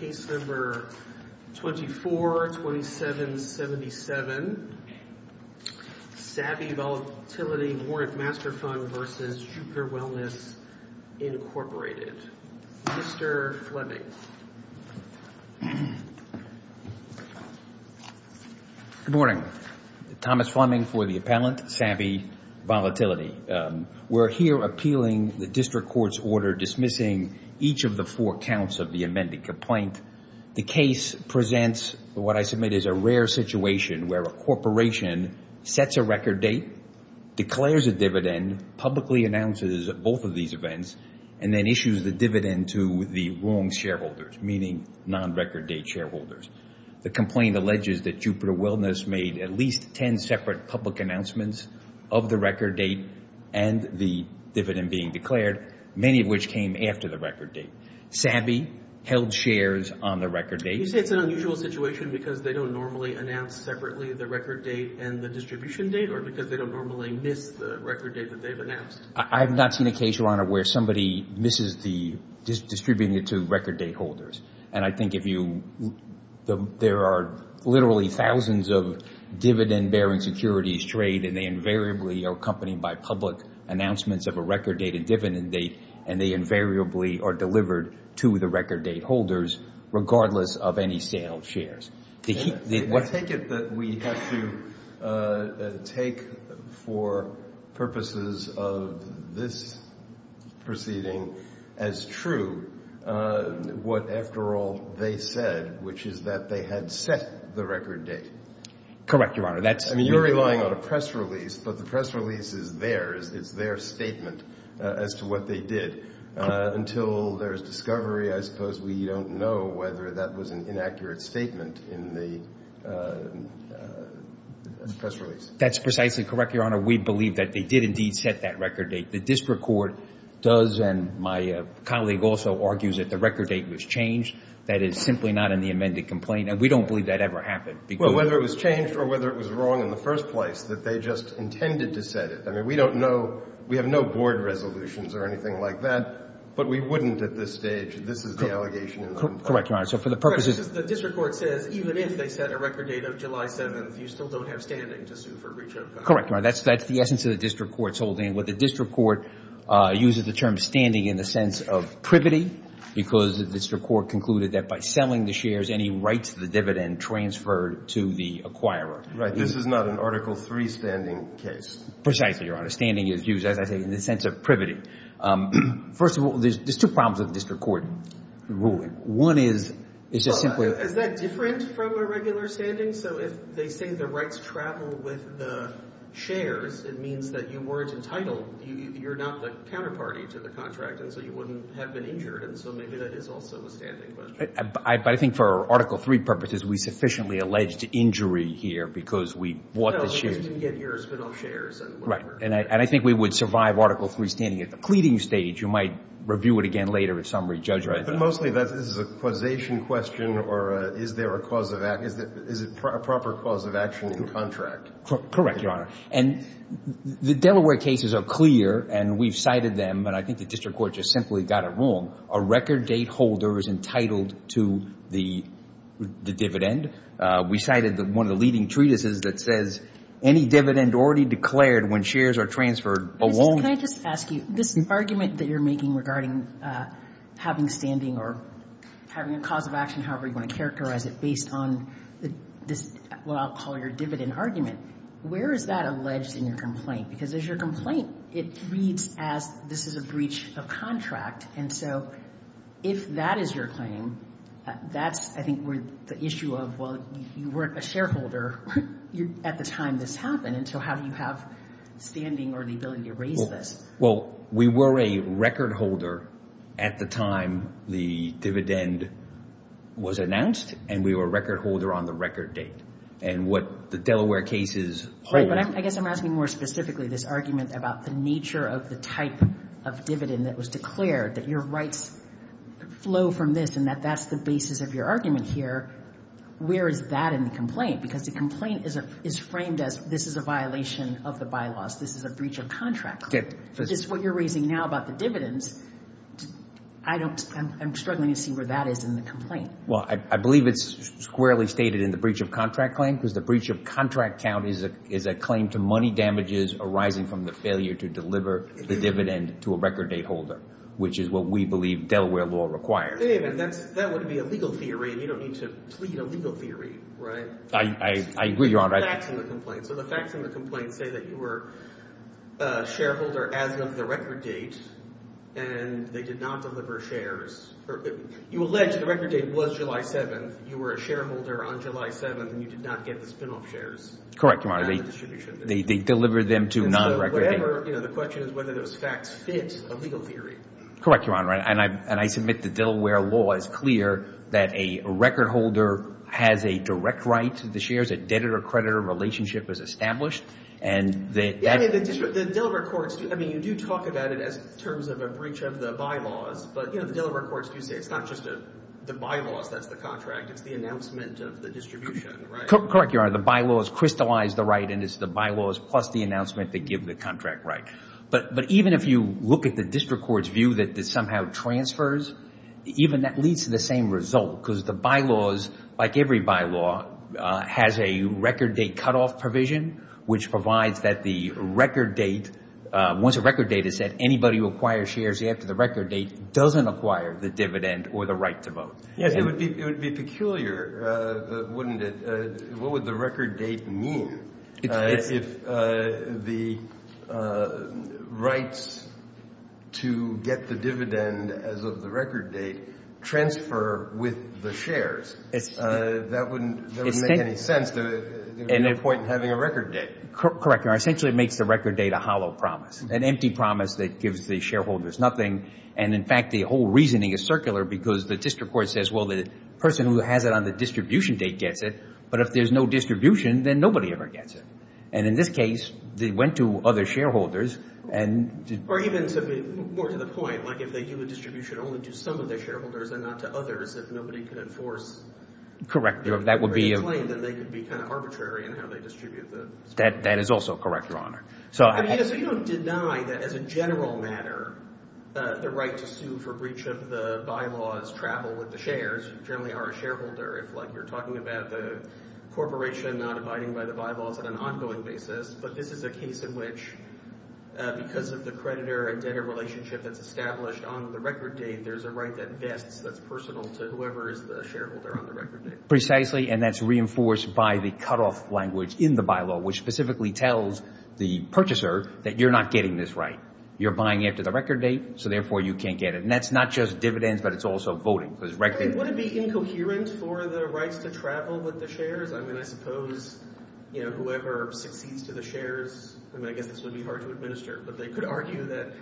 Case No. 242777, Sabby Volatility Warrant Master Fund v. Jupiter Wellness, Inc. Mr. Fleming. Good morning. Thomas Fleming for the appellant, Sabby Volatility. We're here appealing the district court's order dismissing each of the four counts of the amended complaint. The case presents what I submit is a rare situation where a corporation sets a record date, declares a dividend, publicly announces both of these events, and then issues the dividend to the wrong shareholders, meaning non-record date shareholders. The complaint alleges that Jupiter Wellness made at least 10 separate public announcements of the record date and the dividend being declared, many of which came after the record date. Sabby held shares on the record date. You say it's an unusual situation because they don't normally announce separately the record date and the distribution date or because they don't normally miss the record date that they've announced? I have not seen a case, Your Honor, where somebody misses distributing it to record date holders. And I think if you – there are literally thousands of dividend-bearing securities trade and they invariably are accompanied by public announcements of a record date and dividend date and they invariably are delivered to the record date holders regardless of any sale of shares. I take it that we have to take for purposes of this proceeding as true what, after all, they said, which is that they had set the record date. Correct, Your Honor. I mean, you're relying on a press release, but the press release is theirs. It's their statement as to what they did. Until there's discovery, I suppose we don't know whether that was an inaccurate statement in the press release. That's precisely correct, Your Honor. We believe that they did indeed set that record date. The district court does, and my colleague also argues that the record date was changed. That is simply not in the amended complaint, and we don't believe that ever happened. Well, whether it was changed or whether it was wrong in the first place, that they just intended to set it. I mean, we don't know. We have no board resolutions or anything like that, but we wouldn't at this stage. This is the allegation in the complaint. Correct, Your Honor. So for the purposes of the district court says even if they set a record date of July 7th, you still don't have standing to sue for breach of contract. Correct, Your Honor. That's the essence of the district court's holding. What the district court uses the term standing in the sense of privity because the district court concluded that by selling the shares, any rights to the dividend transferred to the acquirer. Right. This is not an Article III standing case. Precisely, Your Honor. Standing is used, as I say, in the sense of privity. First of all, there's two problems with district court ruling. One is, it's just simply— Is that different from a regular standing? So if they say the rights travel with the shares, it means that you weren't entitled. You're not the counterparty to the contract, and so you wouldn't have been injured. And so maybe that is also a standing question. But I think for Article III purposes, we sufficiently alleged injury here because we bought the shares. Right. And I think we would survive Article III standing at the pleading stage. You might review it again later at summary judgment. But mostly this is a causation question, or is there a proper cause of action in contract? Correct, Your Honor. And the Delaware cases are clear, and we've cited them, and I think the district court just simply got it wrong. A record date holder is entitled to the dividend. We cited one of the leading treatises that says, any dividend already declared when shares are transferred alone— Can I just ask you, this argument that you're making regarding having standing or having a cause of action, however you want to characterize it, based on what I'll call your dividend argument, where is that alleged in your complaint? Because as your complaint, it reads as this is a breach of contract. And so if that is your claim, that's, I think, where the issue of, well, you weren't a shareholder at the time this happened, and so how do you have standing or the ability to raise this? Well, we were a record holder at the time the dividend was announced, and we were a record holder on the record date. And what the Delaware cases— Right, but I guess I'm asking more specifically this argument about the nature of the type of dividend that was declared, that your rights flow from this, and that that's the basis of your argument here, where is that in the complaint? Because the complaint is framed as this is a violation of the bylaws. This is a breach of contract. It's what you're raising now about the dividends. I'm struggling to see where that is in the complaint. Well, I believe it's squarely stated in the breach of contract claim because the breach of contract count is a claim to money damages arising from the failure to deliver the dividend to a record date holder, which is what we believe Delaware law requires. David, that would be a legal theory, and you don't need to plead a legal theory, right? I agree, Your Honor. So the facts in the complaint say that you were a shareholder as of the record date, and they did not deliver shares. You allege the record date was July 7th. You were a shareholder on July 7th, and you did not get the spinoff shares. Correct, Your Honor. They delivered them to non-record date. The question is whether those facts fit a legal theory. Correct, Your Honor. And I submit that Delaware law is clear that a record holder has a direct right to the shares, a debtor-creditor relationship is established. The Delaware courts, I mean, you do talk about it as terms of a breach of the bylaws, but the Delaware courts do say it's not just the bylaws that's the contract. It's the announcement of the distribution, right? Correct, Your Honor. The bylaws crystallize the right, and it's the bylaws plus the announcement that give the contract right. But even if you look at the district court's view that this somehow transfers, even that leads to the same result because the bylaws, like every bylaw, has a record date cutoff provision, which provides that the record date, once a record date is set, anybody who acquires shares after the record date doesn't acquire the dividend or the right to vote. Yes, it would be peculiar, wouldn't it? What would the record date mean? If the rights to get the dividend as of the record date transfer with the shares, that wouldn't make any sense. There would be no point in having a record date. Correct, Your Honor. Essentially, it makes the record date a hollow promise, an empty promise that gives the shareholders nothing. And, in fact, the whole reasoning is circular because the district court says, well, the person who has it on the distribution date gets it, but if there's no distribution, then nobody ever gets it. And in this case, they went to other shareholders. Or even more to the point, like if they do a distribution only to some of the shareholders and not to others, if nobody could enforce the claim, then they could be kind of arbitrary in how they distribute the shares. That is also correct, Your Honor. So you don't deny that, as a general matter, the right to sue for breach of the bylaws travel with the shares. You generally are a shareholder. It's like you're talking about the corporation not abiding by the bylaws on an ongoing basis. But this is a case in which, because of the creditor and debtor relationship that's established on the record date, there's a right that vests that's personal to whoever is the shareholder on the record date. Precisely, and that's reinforced by the cutoff language in the bylaw, which specifically tells the purchaser that you're not getting this right. You're buying after the record date, so therefore you can't get it. And that's not just dividends, but it's also voting. Would it be incoherent for the rights to travel with the shares? I mean, I suppose whoever succeeds to the shares, I mean, I guess this would be hard to administer, but they could argue that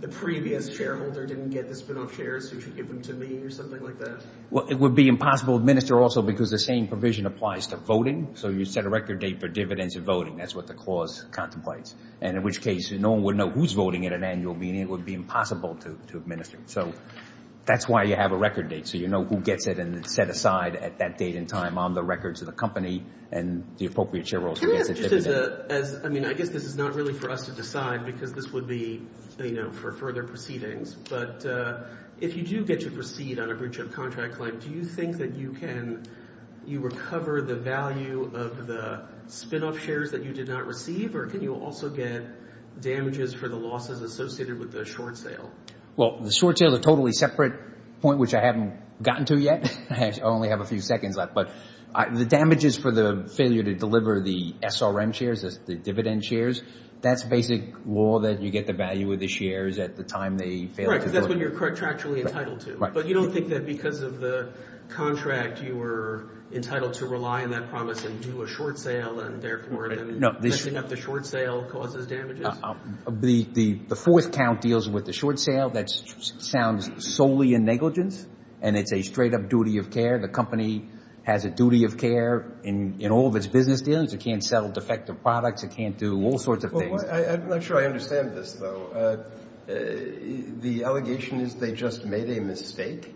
the previous shareholder didn't get the spinoff shares, so you should give them to me or something like that. Well, it would be impossible to administer also because the same provision applies to voting. So you set a record date for dividends and voting. That's what the clause contemplates. And in which case no one would know who's voting at an annual meeting. It would be impossible to administer. So that's why you have a record date, so you know who gets it, and it's set aside at that date and time on the records of the company and the appropriate shareholder who gets it. Can I ask just as a – I mean, I guess this is not really for us to decide because this would be, you know, for further proceedings, but if you do get your receipt on a breach of contract claim, do you think that you can – you recover the value of the spinoff shares that you did not receive, or can you also get damages for the losses associated with the short sale? Well, the short sale is a totally separate point, which I haven't gotten to yet. I only have a few seconds left. But the damages for the failure to deliver the SRM shares, the dividend shares, that's basic law that you get the value of the shares at the time they fail. Right, because that's when you're contractually entitled to. Right. But you don't think that because of the contract, you were entitled to rely on that promise and do a short sale, and therefore then messing up the short sale causes damages? The fourth count deals with the short sale. That sounds solely in negligence, and it's a straight-up duty of care. The company has a duty of care in all of its business dealings. It can't sell defective products. It can't do all sorts of things. I'm not sure I understand this, though. The allegation is they just made a mistake?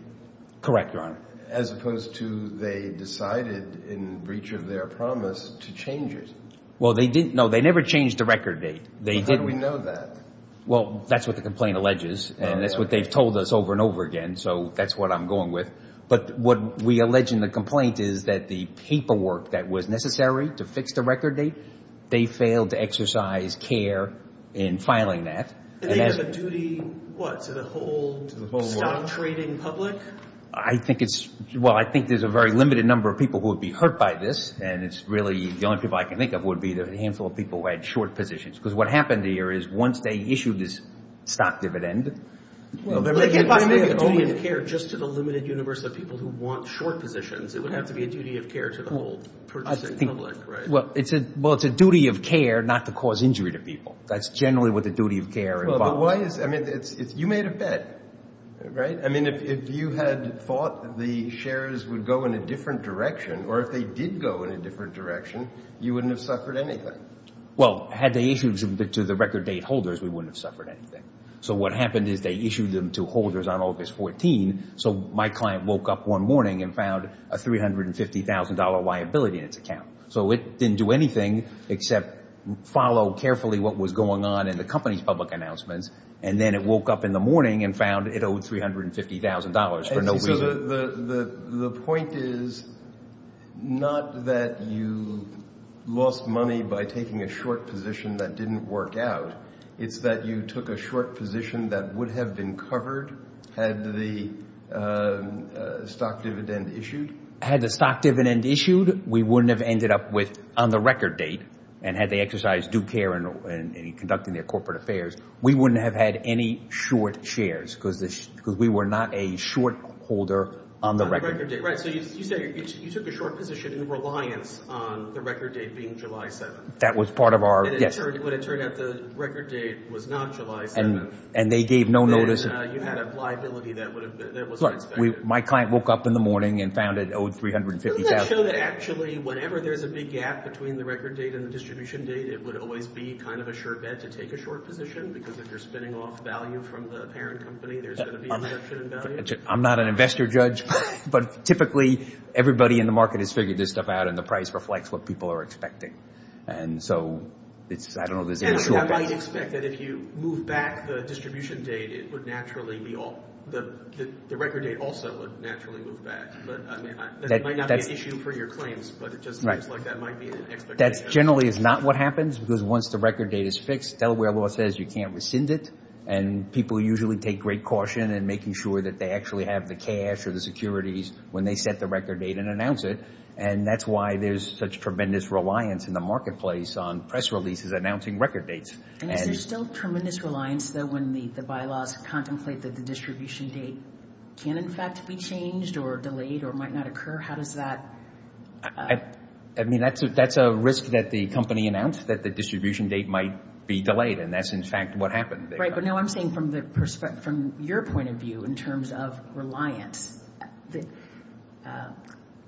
Correct, Your Honor. As opposed to they decided in breach of their promise to change it. Well, they didn't. No, they never changed the record date. How do we know that? Well, that's what the complaint alleges, and that's what they've told us over and over again, so that's what I'm going with. But what we allege in the complaint is that the paperwork that was necessary to fix the record date, they failed to exercise care in filing that. And they have a duty, what, to the whole stock trading public? Well, I think there's a very limited number of people who would be hurt by this, and it's really the only people I can think of would be the handful of people who had short positions, because what happened here is once they issued this stock dividend. Well, if they get by with a duty of care just to the limited universe of people who want short positions, it would have to be a duty of care to the whole purchasing public, right? Well, it's a duty of care not to cause injury to people. That's generally what the duty of care involves. Well, but why is it? I mean, you made a bet, right? I mean, if you had thought the shares would go in a different direction, or if they did go in a different direction, you wouldn't have suffered anything. Well, had they issued to the record date holders, we wouldn't have suffered anything. So what happened is they issued them to holders on August 14, so my client woke up one morning and found a $350,000 liability in its account. So it didn't do anything except follow carefully what was going on in the company's public announcements, and then it woke up in the morning and found it owed $350,000 for no reason. So the point is not that you lost money by taking a short position that didn't work out. It's that you took a short position that would have been covered had the stock dividend issued. Had the stock dividend issued, we wouldn't have ended up with, on the record date, and had they exercised due care in conducting their corporate affairs, we wouldn't have had any short shares because we were not a short holder on the record date. On the record date, right. So you said you took a short position in reliance on the record date being July 7th. That was part of our, yes. But it turned out the record date was not July 7th. And they gave no notice. So you had a liability that wasn't expected. My client woke up in the morning and found it owed $350,000. Doesn't that show that actually whenever there's a big gap between the record date and the distribution date, it would always be kind of a sure bet to take a short position because if you're spinning off value from the parent company, there's going to be a reduction in value? I'm not an investor judge, but typically everybody in the market has figured this stuff out, and the price reflects what people are expecting. And so I don't know if there's any sure bet. I might expect that if you move back the distribution date, the record date also would naturally move back. That might not be an issue for your claims, but it just looks like that might be an expectation. That generally is not what happens because once the record date is fixed, Delaware law says you can't rescind it. And people usually take great caution in making sure that they actually have the cash or the securities when they set the record date and announce it. And that's why there's such tremendous reliance in the marketplace on press releases announcing record dates. And is there still tremendous reliance, though, when the bylaws contemplate that the distribution date can, in fact, be changed or delayed or might not occur? How does that? I mean, that's a risk that the company announced that the distribution date might be delayed, and that's, in fact, what happened. Right, but no, I'm saying from your point of view in terms of reliance,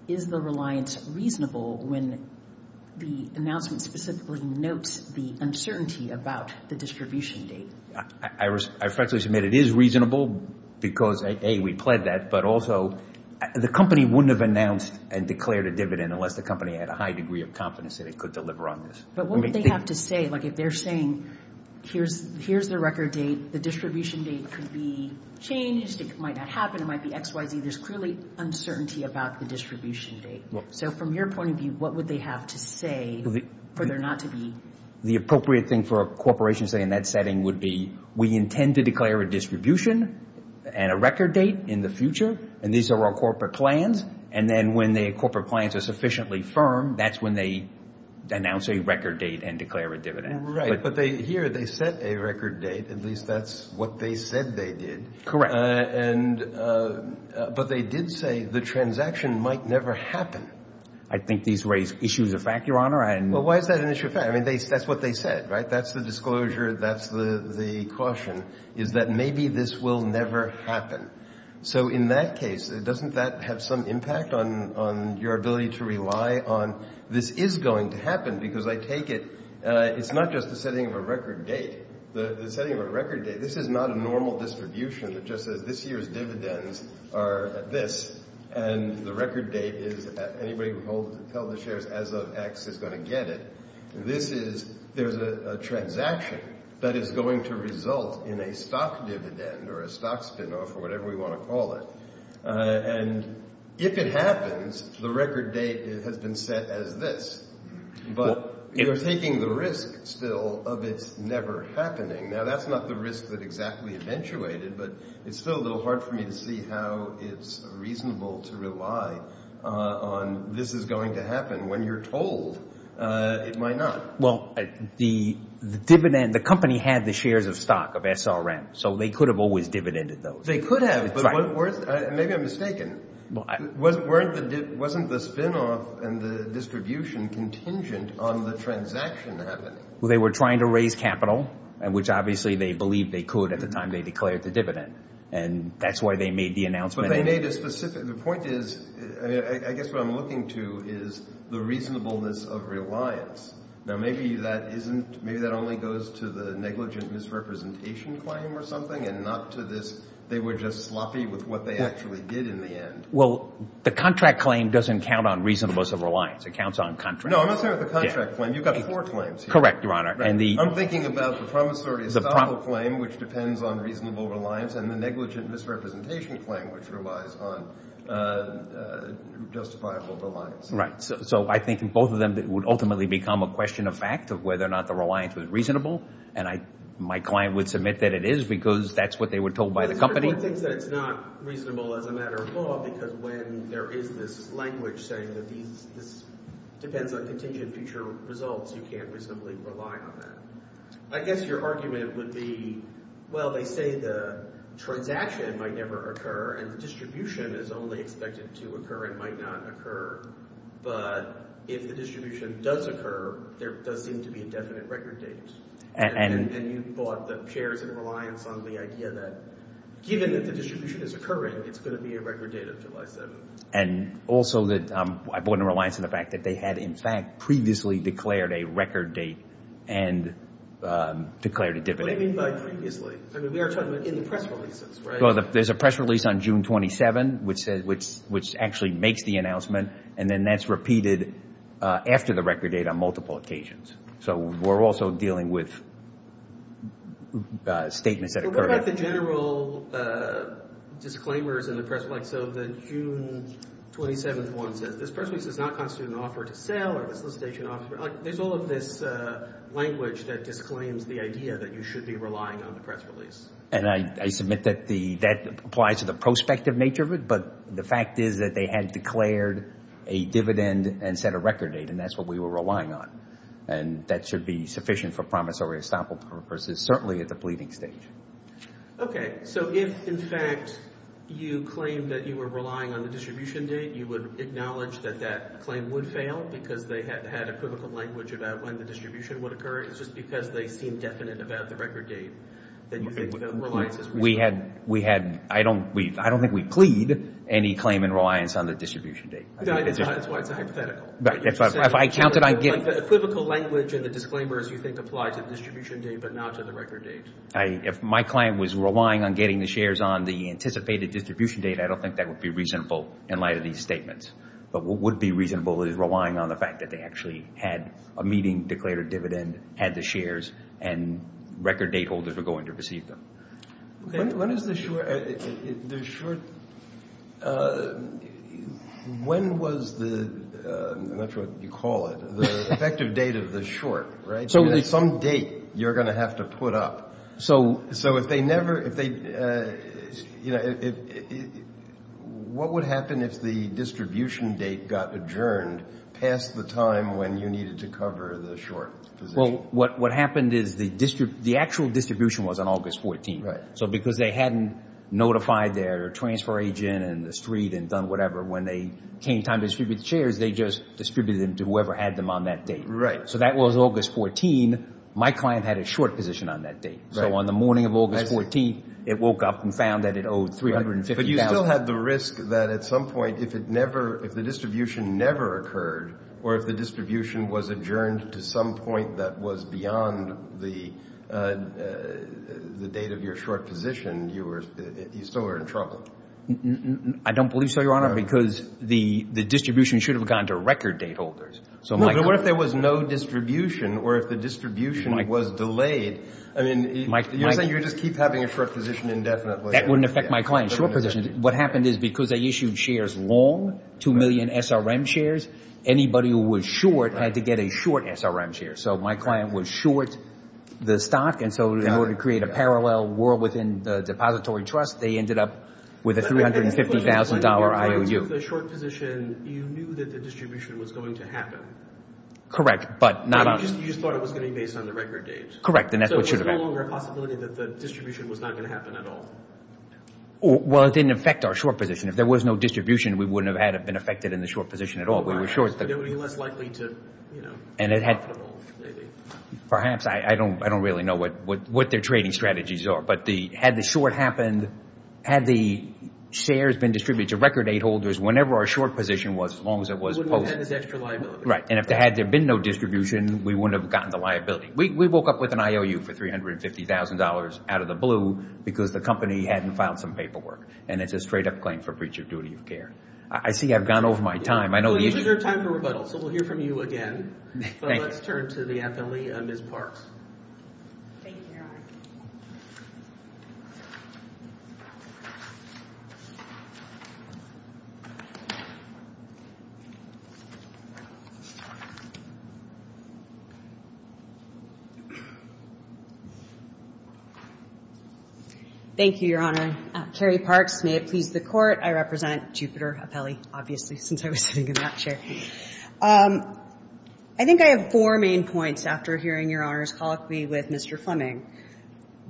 is the reliance reasonable when the announcement specifically notes the uncertainty about the distribution date? I respectfully submit it is reasonable because, A, we pled that, but also the company wouldn't have announced and declared a dividend unless the company had a high degree of confidence that it could deliver on this. But what would they have to say? Like, if they're saying here's the record date, the distribution date could be changed, it might not happen, it might be X, Y, Z, there's clearly uncertainty about the distribution date. So from your point of view, what would they have to say for there not to be? The appropriate thing for a corporation to say in that setting would be, we intend to declare a distribution and a record date in the future, and these are our corporate plans. And then when the corporate plans are sufficiently firm, that's when they announce a record date and declare a dividend. Right, but here they set a record date. At least that's what they said they did. Correct. But they did say the transaction might never happen. I think these raise issues of fact, Your Honor. Well, why is that an issue of fact? I mean, that's what they said, right? That's the disclosure, that's the caution, is that maybe this will never happen. So in that case, doesn't that have some impact on your ability to rely on this is going to happen? Because I take it it's not just the setting of a record date. The setting of a record date, this is not a normal distribution that just says this year's dividends are this, and the record date is anybody who held the shares as of X is going to get it. There's a transaction that is going to result in a stock dividend or a stock spinoff or whatever we want to call it. And if it happens, the record date has been set as this. But you're taking the risk still of it's never happening. Now, that's not the risk that exactly eventuated, but it's still a little hard for me to see how it's reasonable to rely on this is going to happen. When you're told, it might not. Well, the company had the shares of stock, of SRM, so they could have always dividended those. They could have, but maybe I'm mistaken. Wasn't the spinoff and the distribution contingent on the transaction happening? Well, they were trying to raise capital, which obviously they believed they could at the time they declared the dividend. And that's why they made the announcement. But they made a specific – the point is – I guess what I'm looking to is the reasonableness of reliance. Now, maybe that only goes to the negligent misrepresentation claim or something and not to this – Well, the contract claim doesn't count on reasonableness of reliance. It counts on contract. No, I'm not talking about the contract claim. You've got four claims here. Correct, Your Honor. I'm thinking about the promissory estoppel claim, which depends on reasonable reliance, and the negligent misrepresentation claim, which relies on justifiable reliance. Right. So I think both of them would ultimately become a question of fact of whether or not the reliance was reasonable. And my client would submit that it is because that's what they were told by the company. I would think that it's not reasonable as a matter of law because when there is this language saying that these – this depends on contingent future results, you can't reasonably rely on that. I guess your argument would be, well, they say the transaction might never occur, and the distribution is only expected to occur and might not occur. But if the distribution does occur, there does seem to be a definite record date. And you brought the pairs and reliance on the idea that given that the distribution is occurring, it's going to be a record date of July 7th. And also that I brought in reliance on the fact that they had, in fact, previously declared a record date and declared a dividend. What do you mean by previously? I mean, we are talking about in the press releases, right? Well, there's a press release on June 27th, which actually makes the announcement, and then that's repeated after the record date on multiple occasions. So we're also dealing with statements that occur. What about the general disclaimers in the press release? So the June 27th one says, this press release does not constitute an offer to sell or a solicitation offer. There's all of this language that disclaims the idea that you should be relying on the press release. And I submit that that applies to the prospective nature of it, but the fact is that they had declared a dividend and set a record date, and that's what we were relying on. And that should be sufficient for promissory estoppel purposes, certainly at the pleading stage. Okay. So if, in fact, you claim that you were relying on the distribution date, you would acknowledge that that claim would fail because they had a critical language about when the distribution would occur. It's just because they seem definite about the record date that you think the reliance is reasonable. We had, I don't think we plead any claim in reliance on the distribution date. That's why it's a hypothetical. If I counted on getting... The critical language and the disclaimers you think apply to the distribution date, but not to the record date. If my claim was relying on getting the shares on the anticipated distribution date, I don't think that would be reasonable in light of these statements. But what would be reasonable is relying on the fact that they actually had a meeting, declared a dividend, had the shares, and record date holders were going to receive them. When is the short... When was the, I'm not sure what you call it, the effective date of the short, right? Some date you're going to have to put up. So if they never... What would happen if the distribution date got adjourned past the time when you needed to cover the short? Well, what happened is the actual distribution was on August 14th. So because they hadn't notified their transfer agent and the street and done whatever, when they came time to distribute the shares, they just distributed them to whoever had them on that date. So that was August 14th. My client had a short position on that date. So on the morning of August 14th, it woke up and found that it owed $350,000. But you still had the risk that at some point, if the distribution never occurred, or if the distribution was adjourned to some point that was beyond the date of your short position, you still were in trouble. I don't believe so, Your Honor, because the distribution should have gone to record date holders. But what if there was no distribution or if the distribution was delayed? You're saying you would just keep having a short position indefinitely. That wouldn't affect my client's short position. What happened is because they issued shares long, 2 million SRM shares, anybody who was short had to get a short SRM share. So my client was short the stock. And so in order to create a parallel world within the depository trust, they ended up with a $350,000 IOU. Correct. But you just thought it was going to be based on the record date. Correct, and that's what should have happened. So it was no longer a possibility that the distribution was not going to happen at all. Well, it didn't affect our short position. If there was no distribution, we wouldn't have been affected in the short position at all. We were short. It would be less likely to, you know, be profitable, maybe. Perhaps. I don't really know what their trading strategies are. But had the short happened, had the shares been distributed to record date holders, whenever our short position was, as long as it was posted. We wouldn't have had this extra liability. Right. And had there been no distribution, we wouldn't have gotten the liability. We woke up with an IOU for $350,000 out of the blue because the company hadn't filed some paperwork. And it's a straight up claim for breach of duty of care. I see I've gone over my time. Well, you took your time for rebuttal. So we'll hear from you again. Thank you. Let's turn to the appellee, Ms. Parks. Thank you. Thank you, Your Honor. Carrie Parks. May it please the Court. I represent Jupiter Appellee, obviously, since I was sitting in that chair. I think I have four main points after hearing Your Honor's colloquy with Mr. Fleming.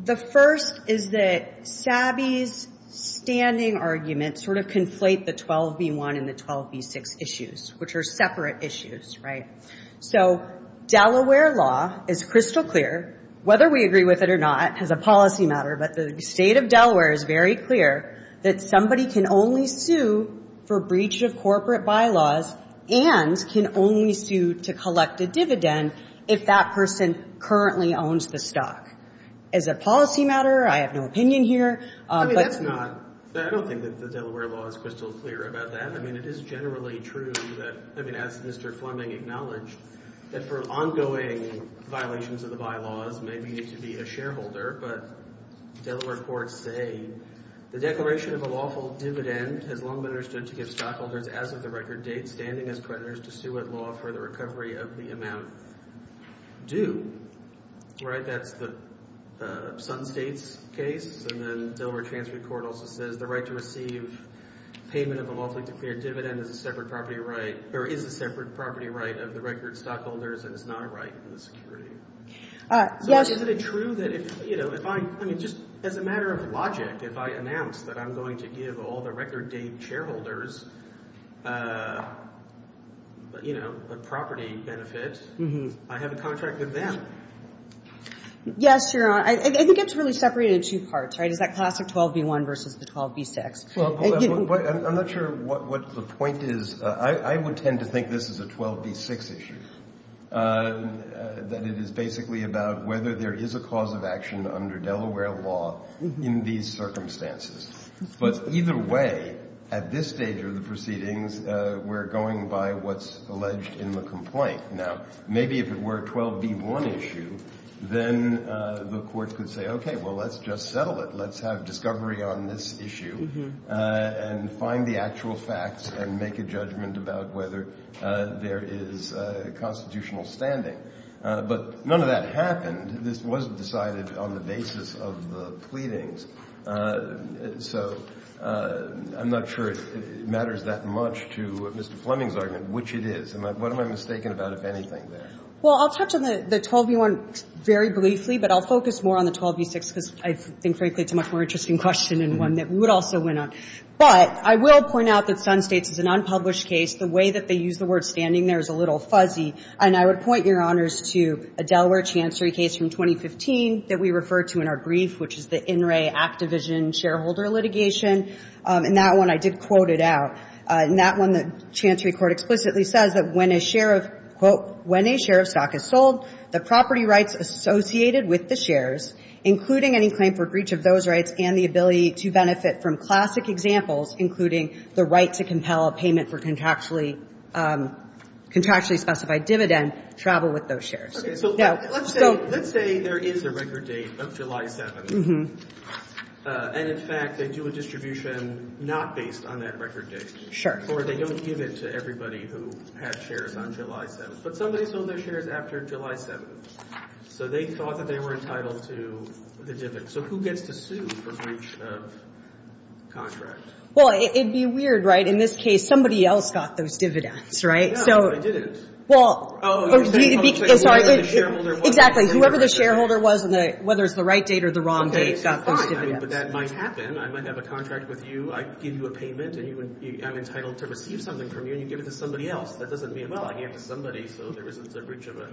The first is that Sabi's standing arguments sort of conflate the 12b-1 and the 12b-6 issues, which are separate issues. Right. So Delaware law is crystal clear, whether we agree with it or not as a policy matter, but the state of Delaware is very clear that somebody can only sue for breach of corporate bylaws and can only sue to collect a dividend if that person currently owns the stock. As a policy matter, I have no opinion here. I mean, that's not – I don't think that the Delaware law is crystal clear about that. I mean, it is generally true that – I mean, as Mr. Fleming acknowledged, that for ongoing violations of the bylaws, maybe you need to be a shareholder. But Delaware courts say the declaration of a lawful dividend has long been understood to give stockholders, as of the record date, standing as predators to sue at law for the recovery of the amount due. Right. That's the Sutton States case. And then Delaware transfer court also says the right to receive payment of a lawfully declared dividend is a separate property right – or is a separate property right of the record stockholders, and it's not a right in the security. Yes. So is it true that if – you know, if I – I mean, just as a matter of logic, if I announce that I'm going to give all the record date shareholders, you know, a property benefit, I have a contract with them. Yes, Your Honor. I think it's really separated in two parts, right? It's that classic 12b-1 versus the 12b-6. I'm not sure what the point is. I would tend to think this is a 12b-6 issue, that it is basically about whether there is a cause of action under Delaware law in these circumstances. But either way, at this stage of the proceedings, we're going by what's alleged in the complaint. Now, maybe if it were a 12b-1 issue, then the court could say, okay, well, let's just settle it. Let's have discovery on this issue and find the actual facts and make a judgment about whether there is constitutional standing. But none of that happened. This wasn't decided on the basis of the pleadings. So I'm not sure it matters that much to Mr. Fleming's argument, which it is. What am I mistaken about, if anything, there? Well, I'll touch on the 12b-1 very briefly, but I'll focus more on the 12b-6, because I think, frankly, it's a much more interesting question and one that would also win out. But I will point out that Sun States is an unpublished case. The way that they use the word standing there is a little fuzzy. And I would point, Your Honors, to a Delaware Chancery case from 2015 that we referred to in our brief, which is the In Re Act Division shareholder litigation. And that one I did quote it out. In that one, the Chancery court explicitly says that when a share of, quote, when a share of stock is sold, the property rights associated with the shares, including any claim for breach of those rights and the ability to benefit from classic examples, including the right to compel a payment for contractually specified dividend, travel with those shares. Okay. So let's say there is a record date of July 7th. Mm-hmm. And, in fact, they do a distribution not based on that record date. Sure. Or they don't give it to everybody who had shares on July 7th. But somebody sold their shares after July 7th. So they thought that they were entitled to the dividend. So who gets to sue for breach of contract? Well, it would be weird, right? In this case, somebody else got those dividends, right? No, they didn't. Well, sorry. Exactly. Whoever the shareholder was and whether it's the right date or the wrong date. But that might happen. I might have a contract with you. I give you a payment, and I'm entitled to receive something from you, and you give it to somebody else. That doesn't mean, well, I give it to somebody so there isn't a breach of a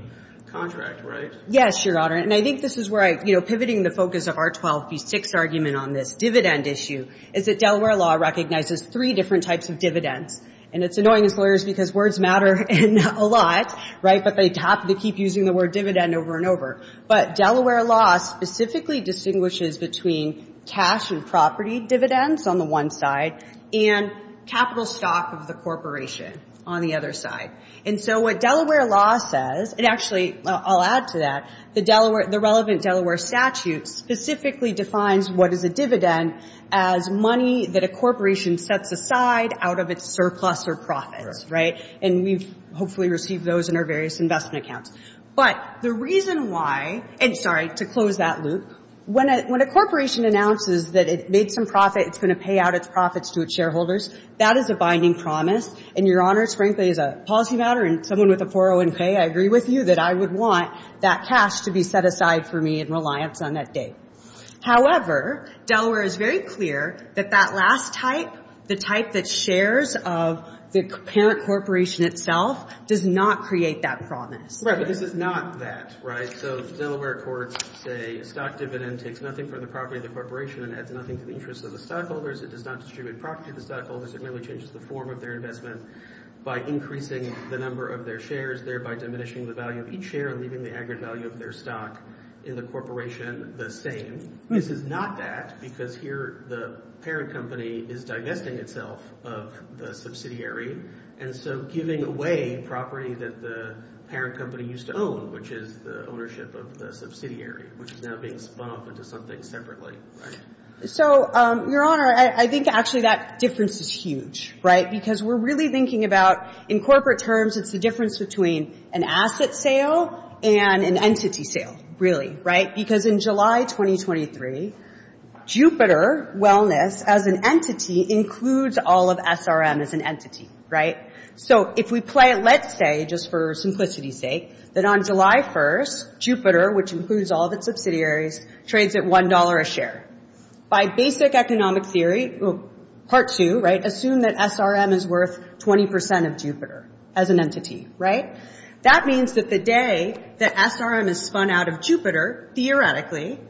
contract, right? Yes, Your Honor. And I think this is where I'm pivoting the focus of our 12 v. 6 argument on this dividend issue is that Delaware law recognizes three different types of dividends. And it's annoying as lawyers because words matter a lot, right, but they have to keep using the word dividend over and over. But Delaware law specifically distinguishes between cash and property dividends on the one side and capital stock of the corporation on the other side. And so what Delaware law says, and actually I'll add to that, the relevant Delaware statute specifically defines what is a dividend as money that a corporation sets aside out of its surplus or profits, right? And we've hopefully received those in our various investment accounts. But the reason why, and sorry, to close that loop, when a corporation announces that it made some profit, it's going to pay out its profits to its shareholders, that is a binding promise. And, Your Honor, frankly, as a policy matter and someone with a 401k, I agree with you that I would want that cash to be set aside for me in reliance on that day. However, Delaware is very clear that that last type, the type that shares of the parent corporation itself, does not create that promise. Right, but this is not that, right? So Delaware courts say a stock dividend takes nothing from the property of the corporation and adds nothing to the interest of the stockholders. It does not distribute property to the stockholders. It merely changes the form of their investment by increasing the number of their shares, thereby diminishing the value of each share and leaving the aggregate value of their stock in the corporation the same. This is not that because here the parent company is divesting itself of the subsidiary. And so giving away property that the parent company used to own, which is the ownership of the subsidiary, which is now being spun off into something separately. So, Your Honor, I think actually that difference is huge, right, because we're really thinking about in corporate terms it's the difference between an asset sale and an entity sale, really. Right, because in July 2023, Jupiter Wellness, as an entity, includes all of SRM as an entity, right? So if we play it, let's say, just for simplicity's sake, that on July 1st, Jupiter, which includes all of its subsidiaries, trades at $1 a share. By basic economic theory, part two, right, assume that SRM is worth 20% of Jupiter as an entity, right? That means that the day that SRM is spun out of Jupiter, theoretically,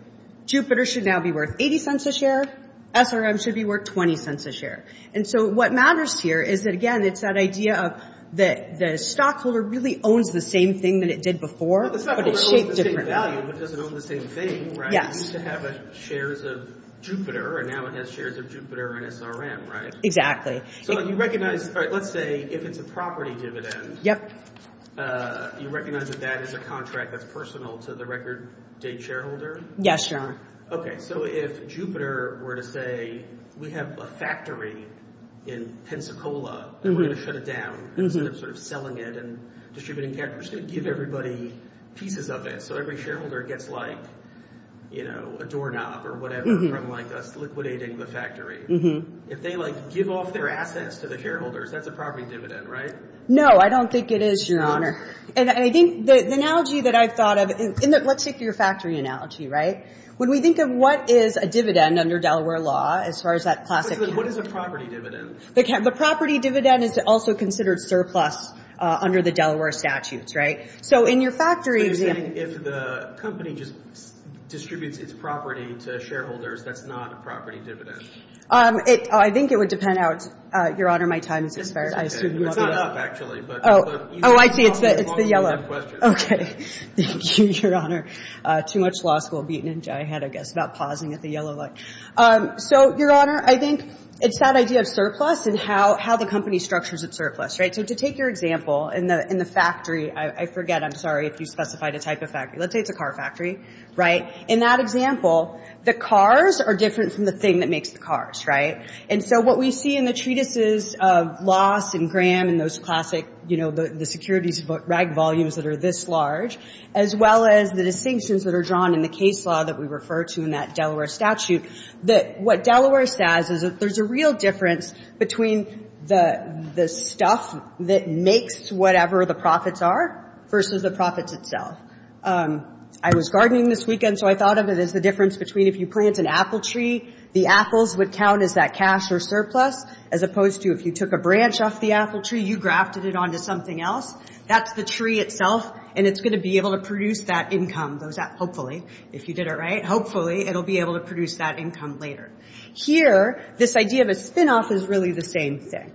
Jupiter should now be worth $0.80 a share, SRM should be worth $0.20 a share. And so what matters here is that, again, it's that idea that the stockholder really owns the same thing that it did before, but it's shaped differently. It's not the same value, but it doesn't own the same thing, right? Yes. It used to have shares of Jupiter, and now it has shares of Jupiter and SRM, right? Exactly. So you recognize, let's say, if it's a property dividend, you recognize that that is a contract that's personal to the record date shareholder? Yes, John. Okay, so if Jupiter were to say, we have a factory in Pensacola, and we're going to shut it down, instead of sort of selling it and distributing cash, we're just going to give everybody pieces of it, so every shareholder gets like, you know, a doorknob or whatever from us liquidating the factory. If they, like, give off their assets to the shareholders, that's a property dividend, right? No, I don't think it is, Your Honor. And I think the analogy that I've thought of, let's take your factory analogy, right? When we think of what is a dividend under Delaware law, as far as that classic— What is a property dividend? The property dividend is also considered surplus under the Delaware statutes, right? So in your factory— So you're saying if the company just distributes its property to shareholders, that's not a property dividend? I think it would depend how—Your Honor, my time is expired. It's not up, actually, but— Oh, I see. It's the yellow. Okay. Thank you, Your Honor. Too much law school beatin' in my head, I guess, about pausing at the yellow light. So, Your Honor, I think it's that idea of surplus and how the company structures its surplus, right? So to take your example, in the factory—I forget, I'm sorry, if you specified a type of factory. Let's say it's a car factory, right? In that example, the cars are different from the thing that makes the cars, right? And so what we see in the treatises of Loss and Graham and those classic, you know, the securities rag volumes that are this large, as well as the distinctions that are drawn in the case law that we refer to in that Delaware statute, that what Delaware says is that there's a real difference between the stuff that makes whatever the profits are versus the profits itself. I was gardening this weekend, so I thought of it as the difference between if you plant an apple tree, the apples would count as that cash or surplus, as opposed to if you took a branch off the apple tree, you grafted it onto something else. That's the tree itself, and it's going to be able to produce that income, hopefully, if you did it right. Hopefully, it'll be able to produce that income later. Here, this idea of a spinoff is really the same thing,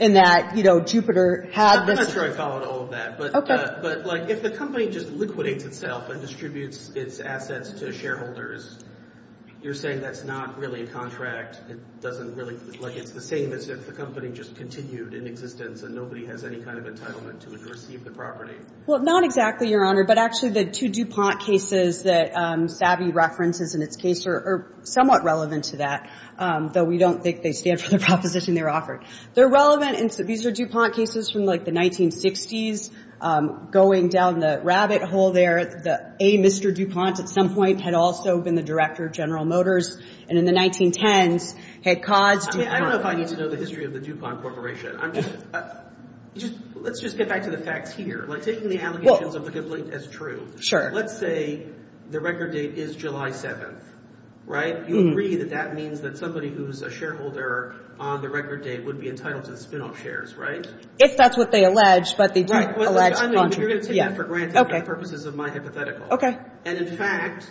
in that, you know, Jupiter had this— Okay. But, like, if the company just liquidates itself and distributes its assets to shareholders, you're saying that's not really a contract. It doesn't really—like, it's the same as if the company just continued in existence and nobody has any kind of entitlement to receive the property. Well, not exactly, Your Honor, but actually the two DuPont cases that Savvy references in its case are somewhat relevant to that, though we don't think they stand for the proposition they were offered. They're relevant, and these are DuPont cases from, like, the 1960s, going down the rabbit hole there. The A. Mr. DuPont at some point had also been the director of General Motors, and in the 1910s had caused— I mean, I don't know if I need to know the history of the DuPont Corporation. I'm just—let's just get back to the facts here. Like, taking the allegations of the complaint as true. Sure. Let's say the record date is July 7th, right? You agree that that means that somebody who's a shareholder on the record date would be entitled to the spinoff shares, right? If that's what they allege, but they don't allege contracts. I mean, you're going to take that for granted for purposes of my hypothetical. Okay. And, in fact,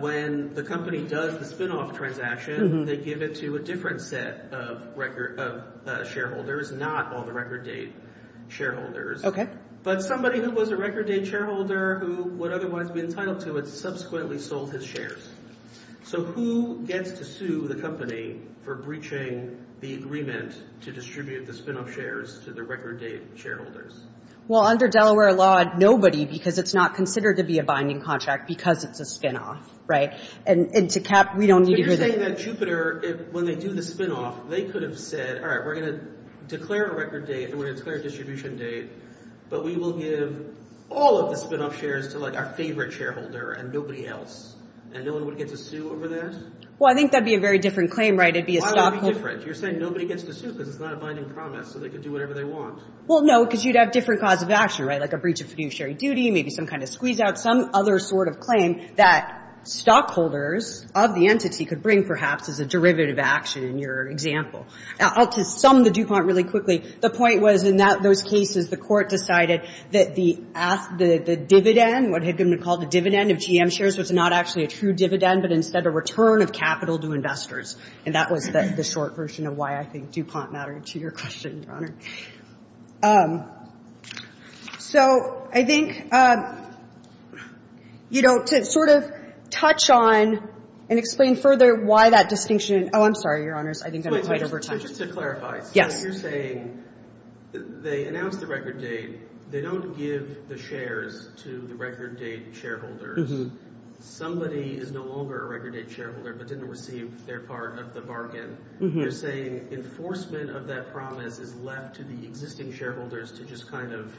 when the company does the spinoff transaction, they give it to a different set of record—of shareholders, not all the record date shareholders. Okay. But somebody who was a record date shareholder who would otherwise be entitled to it subsequently sold his shares. So who gets to sue the company for breaching the agreement to distribute the spinoff shares to the record date shareholders? Well, under Delaware law, nobody because it's not considered to be a binding contract because it's a spinoff, right? And to cap—we don't need to do that. But you're saying that Jupiter, when they do the spinoff, they could have said, all right, we're going to declare a record date and we're going to declare a distribution date, but we will give all of the spinoff shares to, like, our favorite shareholder and nobody else, and no one would get to sue over that? Well, I think that would be a very different claim, right? It would be a stockholder— Why would it be different? You're saying nobody gets to sue because it's not a binding promise, so they could do whatever they want. Well, no, because you'd have different cause of action, right, like a breach of fiduciary duty, maybe some kind of squeeze-out, some other sort of claim that stockholders of the entity could bring, perhaps, as a derivative action in your example. Now, to sum the DuPont really quickly, the point was, in those cases, the Court decided that the dividend, what had been called the dividend of GM shares, was not actually a true dividend, but instead a return of capital to investors. And that was the short version of why I think DuPont mattered to your question, Your Honor. So I think, you know, to sort of touch on and explain further why that distinction— Oh, I'm sorry, Your Honor. I think I went over time. Wait, just to clarify. Yes. So you're saying they announced the record date. They don't give the shares to the record date shareholders. Somebody is no longer a record date shareholder but didn't receive their part of the bargain. You're saying enforcement of that promise is left to the existing shareholders to just kind of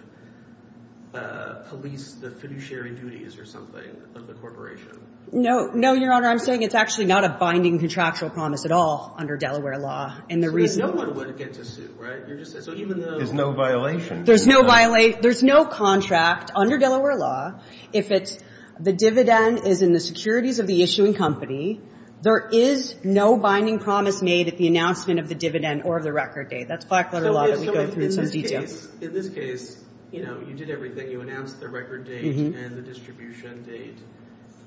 police the fiduciary duties or something of the corporation. No. No, Your Honor. I'm saying it's actually not a binding contractual promise at all under Delaware law. And the reason— So no one would get to sue, right? You're just saying— So even though— There's no violation. There's no violation. There's no contract under Delaware law. If the dividend is in the securities of the issuing company, there is no binding promise made at the announcement of the dividend or of the record date. That's black-letter law that we go through in some detail. So in this case, you know, you did everything. You announced the record date and the distribution date.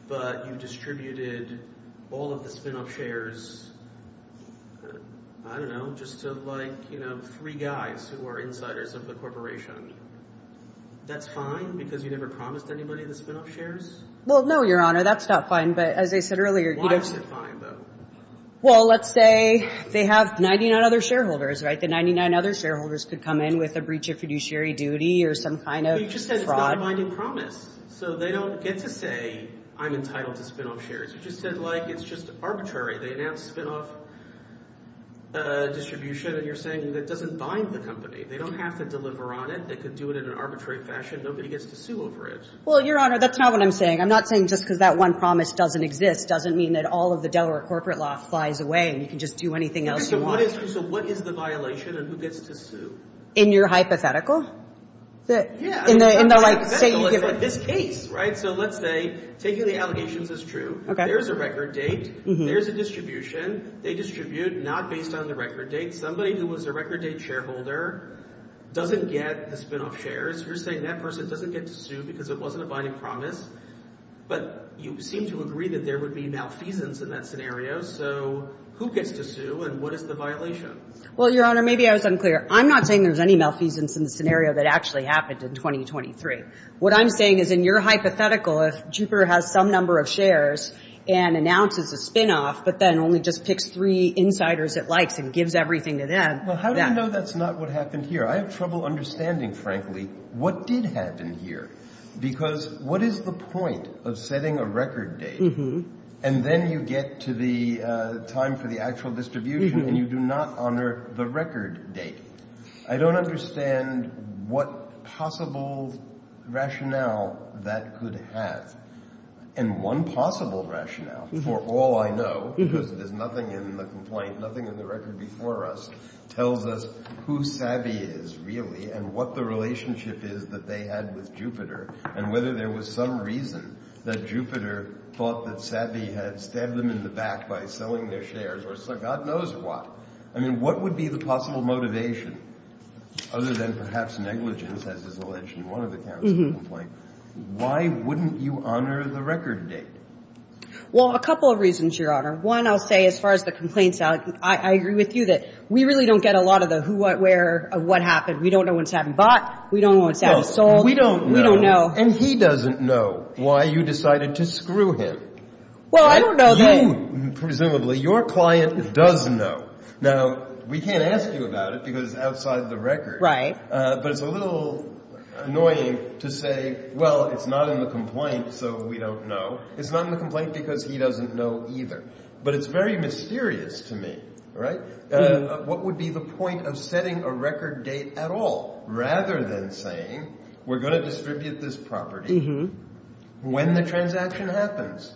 But you distributed all of the spinoff shares, I don't know, just to like, you know, three guys who are insiders of the corporation. That's fine because you never promised anybody the spinoff shares? Well, no, Your Honor. That's not fine. But as I said earlier— Why is it fine, though? Well, let's say they have 99 other shareholders, right? The 99 other shareholders could come in with a breach of fiduciary duty or some kind of fraud. You just said it's not a binding promise. So they don't get to say, I'm entitled to spinoff shares. You just said, like, it's just arbitrary. They announced spinoff distribution, and you're saying that doesn't bind the company. They don't have to deliver on it. They could do it in an arbitrary fashion. Nobody gets to sue over it. Well, Your Honor, that's not what I'm saying. I'm not saying just because that one promise doesn't exist doesn't mean that all of the Delaware corporate law flies away and you can just do anything else you want. So what is the violation and who gets to sue? In your hypothetical? Yeah. In the hypothetical, it's in this case, right? So let's say taking the allegations is true. There's a record date. There's a distribution. They distribute not based on the record date. Somebody who was a record date shareholder doesn't get the spinoff shares. You're saying that person doesn't get to sue because it wasn't a binding promise. But you seem to agree that there would be malfeasance in that scenario. So who gets to sue and what is the violation? Well, Your Honor, maybe I was unclear. I'm not saying there's any malfeasance in the scenario that actually happened in 2023. What I'm saying is in your hypothetical, if Jupiter has some number of shares and announces a spinoff but then only just picks three insiders it likes and gives everything to them. Well, how do you know that's not what happened here? I have trouble understanding, frankly, what did happen here because what is the point of setting a record date and then you get to the time for the actual distribution and you do not honor the record date. I don't understand what possible rationale that could have. And one possible rationale for all I know, because there's nothing in the complaint, nothing in the record before us, tells us who Savvy is really and what the relationship is that they had with Jupiter and whether there was some reason that Jupiter thought that Savvy had stabbed them in the back by selling their shares or God knows what. I mean, what would be the possible motivation other than perhaps negligence, as is alleged in one of the counts of the complaint? Why wouldn't you honor the record date? Well, a couple of reasons, Your Honor. One, I'll say as far as the complaints, I agree with you that we really don't get a lot of the who, what, where, what happened. We don't know when Savvy bought. We don't know when Savvy sold. We don't know. And he doesn't know why you decided to screw him. Well, I don't know that. You, presumably, your client does know. Now, we can't ask you about it because it's outside the record. Right. But it's a little annoying to say, well, it's not in the complaint, so we don't know. It's not in the complaint because he doesn't know either. But it's very mysterious to me, right? What would be the point of setting a record date at all rather than saying we're going to distribute this property when the transaction happens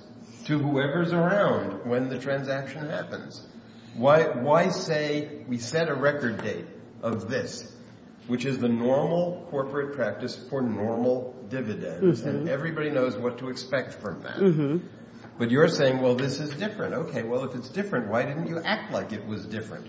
to whoever's around when the transaction happens? Why? Why say we set a record date of this, which is the normal corporate practice for normal dividends? And everybody knows what to expect from that. But you're saying, well, this is different. OK, well, if it's different, why didn't you act like it was different?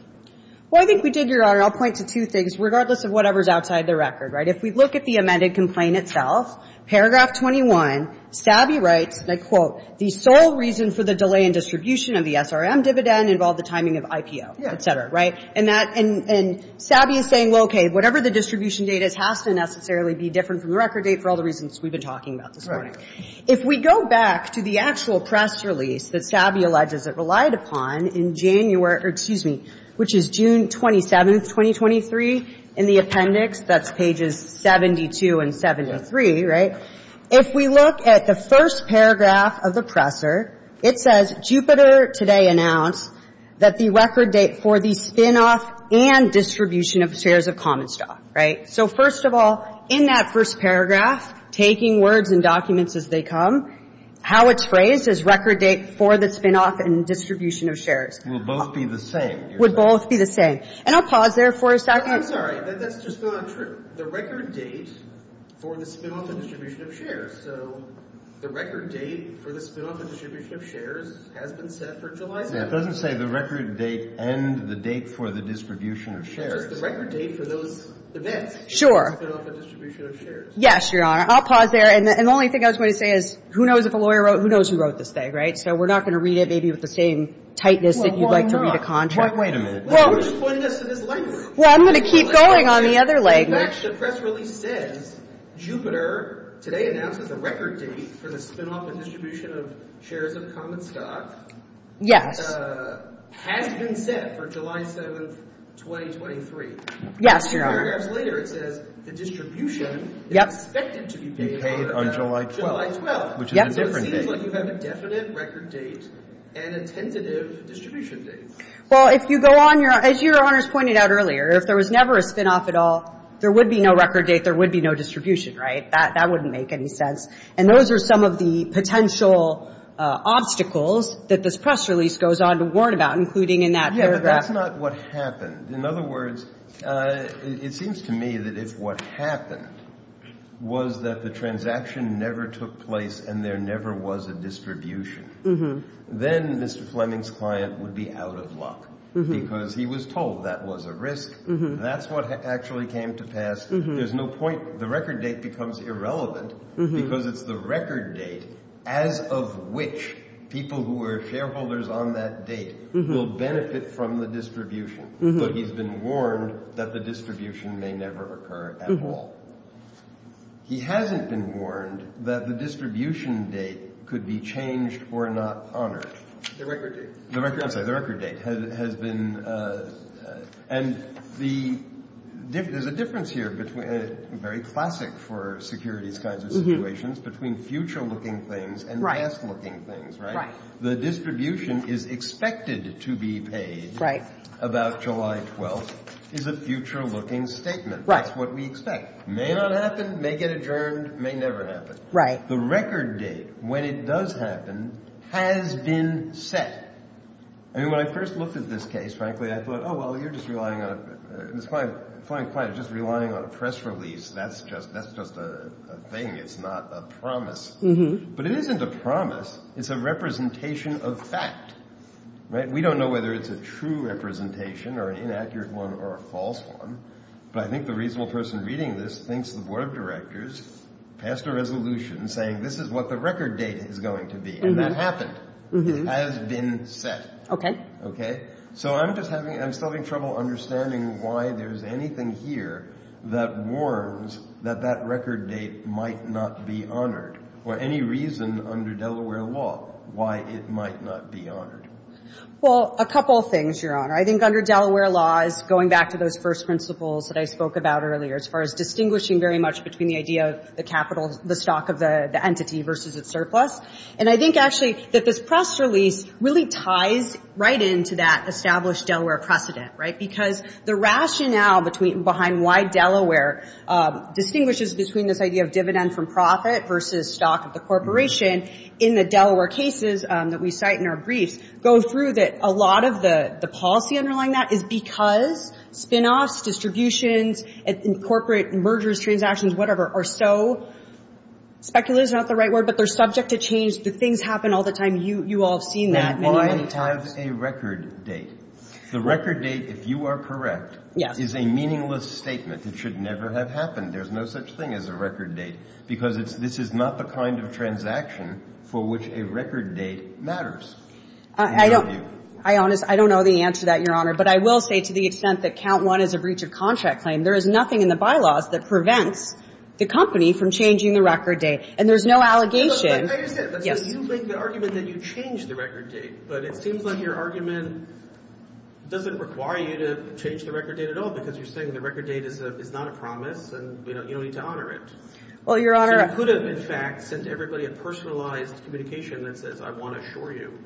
Well, I think we did, Your Honor. I'll point to two things, regardless of whatever's outside the record. Right? If we look at the amended complaint itself, paragraph 21, Sabby writes, and I quote, the sole reason for the delay in distribution of the SRM dividend involved the timing of IPO, et cetera. Right? And Sabby is saying, well, OK, whatever the distribution date is has to necessarily be different from the record date for all the reasons we've been talking about this morning. Right. If we go back to the actual press release that Sabby alleges it relied upon in January or excuse me, which is June 27th, 2023, in the appendix, that's pages 72 and 73. Right. If we look at the first paragraph of the presser, it says, Jupiter today announced that the record date for the spinoff and distribution of shares of common stock. Right. So first of all, in that first paragraph, taking words and documents as they come, how it's phrased is record date for the spinoff and distribution of shares. Will both be the same. Would both be the same. And I'll pause there for a second. I'm sorry. That's just not true. The record date for the spinoff and distribution of shares. So the record date for the spinoff and distribution of shares has been set for July 7th. Yeah, it doesn't say the record date and the date for the distribution of shares. Just the record date for those events. Sure. Spinoff and distribution of shares. Yes, Your Honor. I'll pause there. And the only thing I was going to say is, who knows if a lawyer wrote, who knows who wrote this thing, right? So we're not going to read it maybe with the same tightness that you'd like to read a contract. Wait a minute. You're just pointing us to this language. Well, I'm going to keep going on the other language. In fact, the press release says, Jupiter today announced that the record date for the spinoff and distribution of shares of common stock. Yes. Has been set for July 7th, 2023. Yes, Your Honor. Two paragraphs later, it says the distribution is expected to be paid on July 12th. Be paid on July 12th, which is a different date. So it seems like you have a definite record date and a tentative distribution date. Well, if you go on, as Your Honor has pointed out earlier, if there was never a spinoff at all, there would be no record date. There would be no distribution, right? That wouldn't make any sense. And those are some of the potential obstacles that this press release goes on to warn about, including in that paragraph. Yeah, but that's not what happened. In other words, it seems to me that if what happened was that the transaction never took place and there never was a distribution, then Mr. Fleming's client would be out of luck because he was told that was a risk. That's what actually came to pass. There's no point. The record date becomes irrelevant because it's the record date as of which people who were shareholders on that date will benefit from the distribution. But he's been warned that the distribution may never occur at all. He hasn't been warned that the distribution date could be changed or not honored. The record date. I'm sorry. The record date has been. And there's a difference here between a very classic for securities kinds of situations between future looking things and past looking things. Right. The distribution is expected to be paid. Right. About July 12th is a future looking statement. That's what we expect. May not happen. May get adjourned. May never happen. Right. The record date when it does happen has been set. I mean, when I first looked at this case, frankly, I thought, oh, well, you're just relying on it. It's fine. Fine. Fine. Just relying on a press release. That's just that's just a thing. It's not a promise. But it isn't a promise. It's a representation of fact. Right. We don't know whether it's a true representation or an inaccurate one or a false one. But I think the reasonable person reading this thinks the board of directors passed a resolution saying this is what the record date is going to be. And that happened. Has been set. Okay. Okay. So I'm just having I'm still having trouble understanding why there's anything here that warns that that record date might not be honored. Or any reason under Delaware law why it might not be honored. Well, a couple of things, Your Honor. I think under Delaware law is going back to those first principles that I spoke about earlier as far as distinguishing very much between the idea of the capital, the stock of the entity versus its surplus. And I think actually that this press release really ties right into that established Delaware precedent. Right. Because the rationale between behind why Delaware distinguishes between this idea of dividend from profit versus stock of the corporation, in the Delaware cases that we cite in our briefs, go through that a lot of the policy underlying that is because spinoffs, distributions, and corporate mergers, transactions, whatever, are so speculative is not the right word, but they're subject to change. The things happen all the time. You all have seen that many, many times. And why is a record date? The record date, if you are correct, is a meaningless statement. It should never have happened. There's no such thing as a record date because this is not the kind of transaction for which a record date matters. I don't know the answer to that, Your Honor. But I will say to the extent that count one is a breach of contract claim, there is nothing in the bylaws that prevents the company from changing the record date. And there's no allegation. I understand. You make the argument that you change the record date. But it seems like your argument doesn't require you to change the record date at all because you're saying the record date is not a promise. And you don't need to honor it. You could have, in fact, sent everybody a personalized communication that says, I want to assure you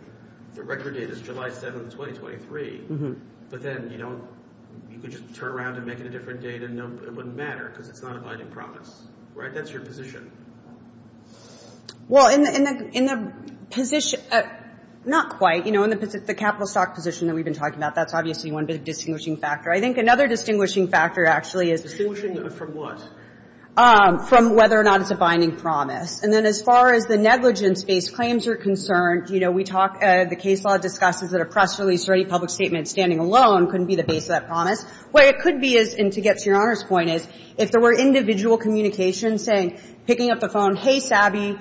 the record date is July 7, 2023. But then you could just turn around and make it a different date and it wouldn't matter because it's not a binding promise. That's your position. Well, in the position, not quite. In the capital stock position that we've been talking about, that's obviously one big distinguishing factor. I think another distinguishing factor actually is Distinguishing from what? From whether or not it's a binding promise. And then as far as the negligence-based claims are concerned, you know, we talk, the case law discusses that a press release or any public statement standing alone couldn't be the base of that promise. What it could be is, and to get to Your Honor's point, is if there were individual communications saying, picking up the phone, hey, Sabby,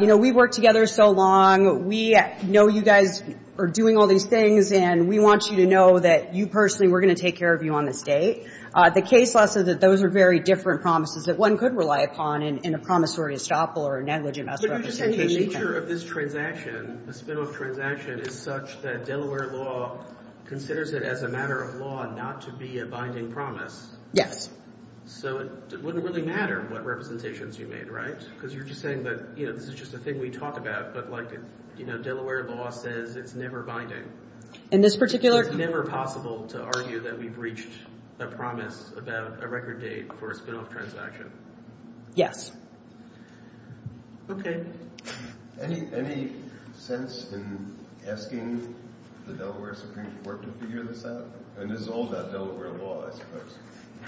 you know, we've worked together so long. We know you guys are doing all these things. And we want you to know that you personally, we're going to take care of you on this date. The case law says that those are very different promises that one could rely upon in a promissory estoppel or a negligence representation. But you're just saying the nature of this transaction, the spinoff transaction, is such that Delaware law considers it as a matter of law not to be a binding promise. Yes. So it wouldn't really matter what representations you made, right? Because you're just saying that, you know, this is just a thing we talk about. But, like, you know, Delaware law says it's never binding. In this particular case. It's never possible to argue that we breached a promise about a record date for a spinoff transaction. Yes. Okay. Any sense in asking the Delaware Supreme Court to figure this out? I mean, this is all about Delaware law, I suppose.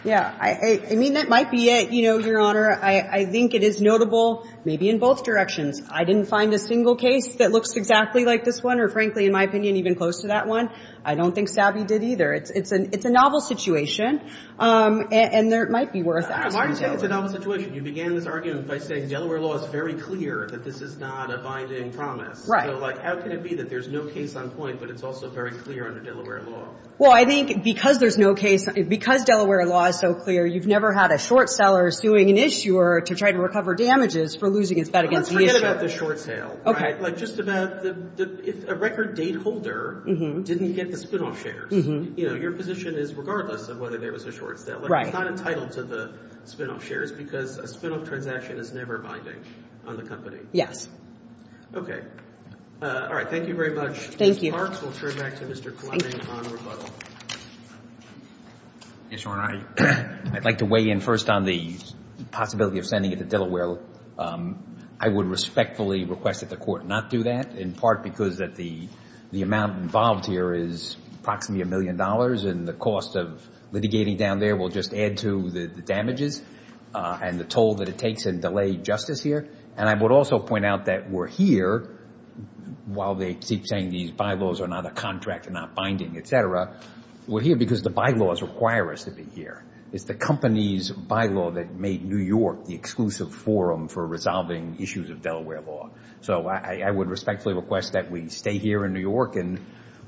Yeah. I mean, that might be it, you know, Your Honor. I think it is notable maybe in both directions. I didn't find a single case that looks exactly like this one or, frankly, in my opinion, even close to that one. I don't think Sabi did either. It's a novel situation. And there might be worth asking Delaware. Why do you say it's a novel situation? You began this argument by saying Delaware law is very clear that this is not a binding promise. Right. So, like, how can it be that there's no case on point, but it's also very clear under Delaware law? Well, I think because there's no case, because Delaware law is so clear, you've never had a short seller suing an issuer to try to recover damages for losing his bet against the issuer. Forget about the short sale. Like, just about the – if a record date holder didn't get the spinoff shares, you know, your position is regardless of whether there was a short sale. Right. Like, it's not entitled to the spinoff shares because a spinoff transaction is never binding on the company. Yes. Okay. All right. Thank you very much. Thank you. Ms. Parks, we'll turn back to Mr. Clement on rebuttal. Yes, Your Honor. I'd like to weigh in first on the possibility of sending it to Delaware. I would respectfully request that the Court not do that, in part because the amount involved here is approximately a million dollars, and the cost of litigating down there will just add to the damages and the toll that it takes in delayed justice here. And I would also point out that we're here while they keep saying these bylaws are not a contract, not binding, et cetera. We're here because the bylaws require us to be here. It's the company's bylaw that made New York the exclusive forum for resolving issues of Delaware law. So I would respectfully request that we stay here in New York and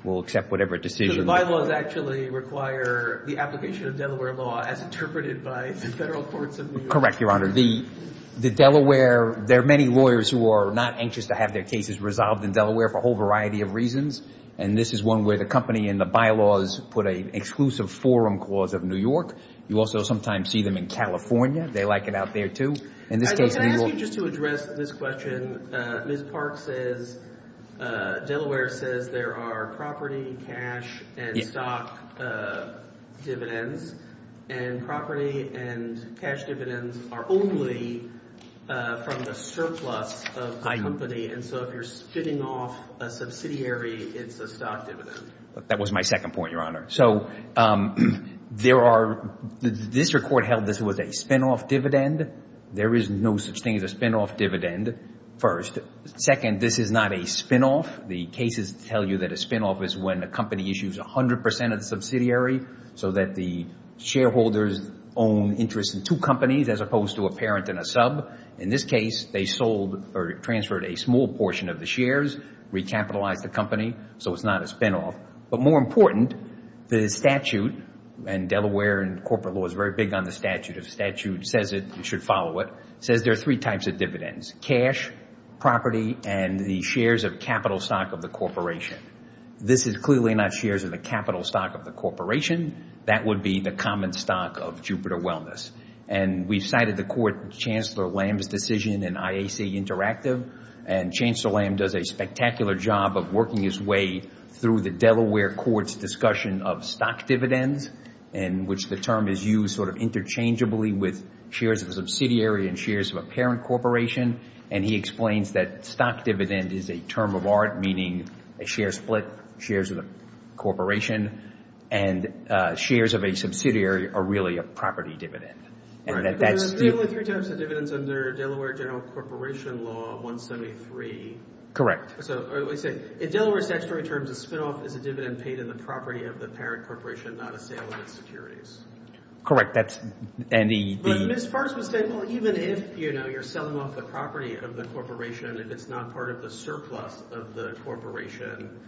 we'll accept whatever decision – So the bylaws actually require the application of Delaware law as interpreted by the federal courts of New York. Correct, Your Honor. The Delaware – there are many lawyers who are not anxious to have their cases resolved in Delaware for a whole variety of reasons, and this is one where the company and the bylaws put an exclusive forum clause of New York. You also sometimes see them in California. They like it out there, too. In this case, New York – Can I ask you just to address this question? Ms. Park says – Delaware says there are property, cash, and stock dividends, and property and cash dividends are only from the surplus of the company. And so if you're spitting off a subsidiary, it's a stock dividend. That was my second point, Your Honor. So there are – this record held this was a spinoff dividend. There is no such thing as a spinoff dividend, first. Second, this is not a spinoff. The cases tell you that a spinoff is when a company issues 100 percent of the subsidiary so that the shareholders own interest in two companies as opposed to a parent and a sub. In this case, they sold or transferred a small portion of the shares, recapitalized the company, so it's not a spinoff. But more important, the statute in Delaware and corporate law is very big on the statute. The statute says it – you should follow it – says there are three types of dividends, cash, property, and the shares of capital stock of the corporation. This is clearly not shares of the capital stock of the corporation. That would be the common stock of Jupiter Wellness. And we've cited the court Chancellor Lamb's decision in IAC Interactive, and Chancellor Lamb does a spectacular job of working his way through the Delaware court's discussion of stock dividends, in which the term is used sort of interchangeably with shares of a subsidiary and shares of a parent corporation. And he explains that stock dividend is a term of art, meaning a share split, shares of the corporation, and shares of a subsidiary are really a property dividend. There are three types of dividends under Delaware general corporation law 173. Correct. In Delaware statutory terms, a spinoff is a dividend paid in the property of the parent corporation, not a sale of its securities. Correct. That's – and the – But Ms. Fars was saying, well, even if, you know, you're selling off the property of the corporation, if it's not part of the surplus of the corporation,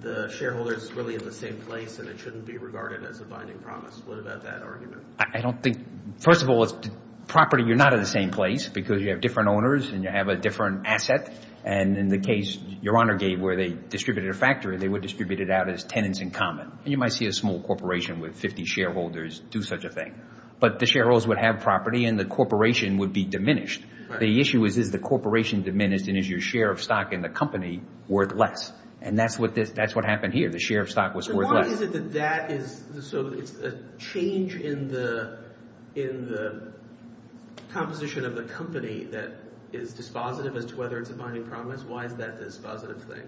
the shareholder is really in the same place and it shouldn't be regarded as a binding promise. What about that argument? I don't think – first of all, it's property. You're not in the same place because you have different owners and you have a different asset. And in the case Your Honor gave where they distributed a factory, they would distribute it out as tenants in common. And you might see a small corporation with 50 shareholders do such a thing. But the shareholders would have property and the corporation would be diminished. The issue is, is the corporation diminished and is your share of stock in the company worth less? And that's what this – that's what happened here. The share of stock was worth less. Why is it that that is – so it's a change in the – in the composition of the company that is dispositive as to whether it's a binding promise? Why is that a dispositive thing?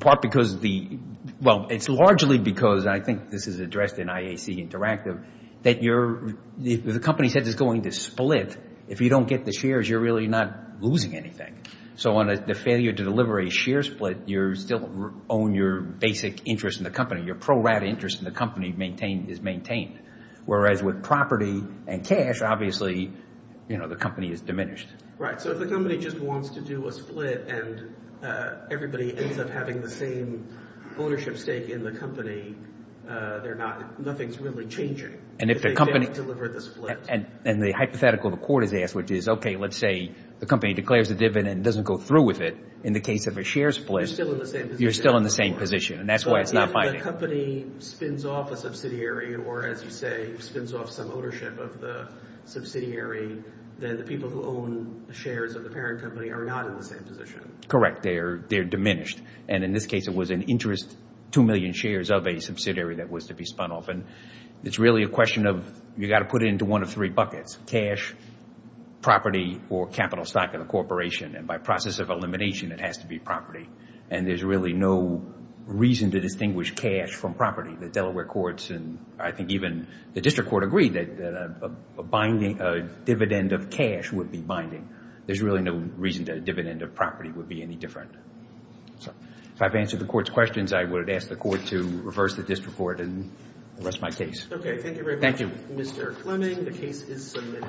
Part because the – well, it's largely because, and I think this is addressed in IAC Interactive, that you're – the company said it's going to split. If you don't get the shares, you're really not losing anything. So on the failure to deliver a share split, you still own your basic interest in the company. Your pro-rata interest in the company is maintained. Whereas with property and cash, obviously, the company is diminished. Right. So if the company just wants to do a split and everybody ends up having the same ownership stake in the company, they're not – nothing's really changing. And if the company – If they fail to deliver the split. And the hypothetical the court has asked, which is, okay, let's say the company declares a dividend and doesn't go through with it. In the case of a share split, you're still in the same position. And that's why it's not binding. So if the company spins off a subsidiary or, as you say, spins off some ownership of the subsidiary, then the people who own the shares of the parent company are not in the same position. Correct. They're diminished. And in this case, it was an interest 2 million shares of a subsidiary that was to be spun off. And it's really a question of you've got to put it into one of three buckets, cash, property, or capital stock of the corporation. And by process of elimination, it has to be property. And there's really no reason to distinguish cash from property. The Delaware courts and I think even the district court agreed that a dividend of cash would be binding. There's really no reason that a dividend of property would be any different. If I've answered the court's questions, I would ask the court to reverse the district court and arrest my case. Okay. Thank you very much. Thank you. Mr. Clemming, the case is submitted.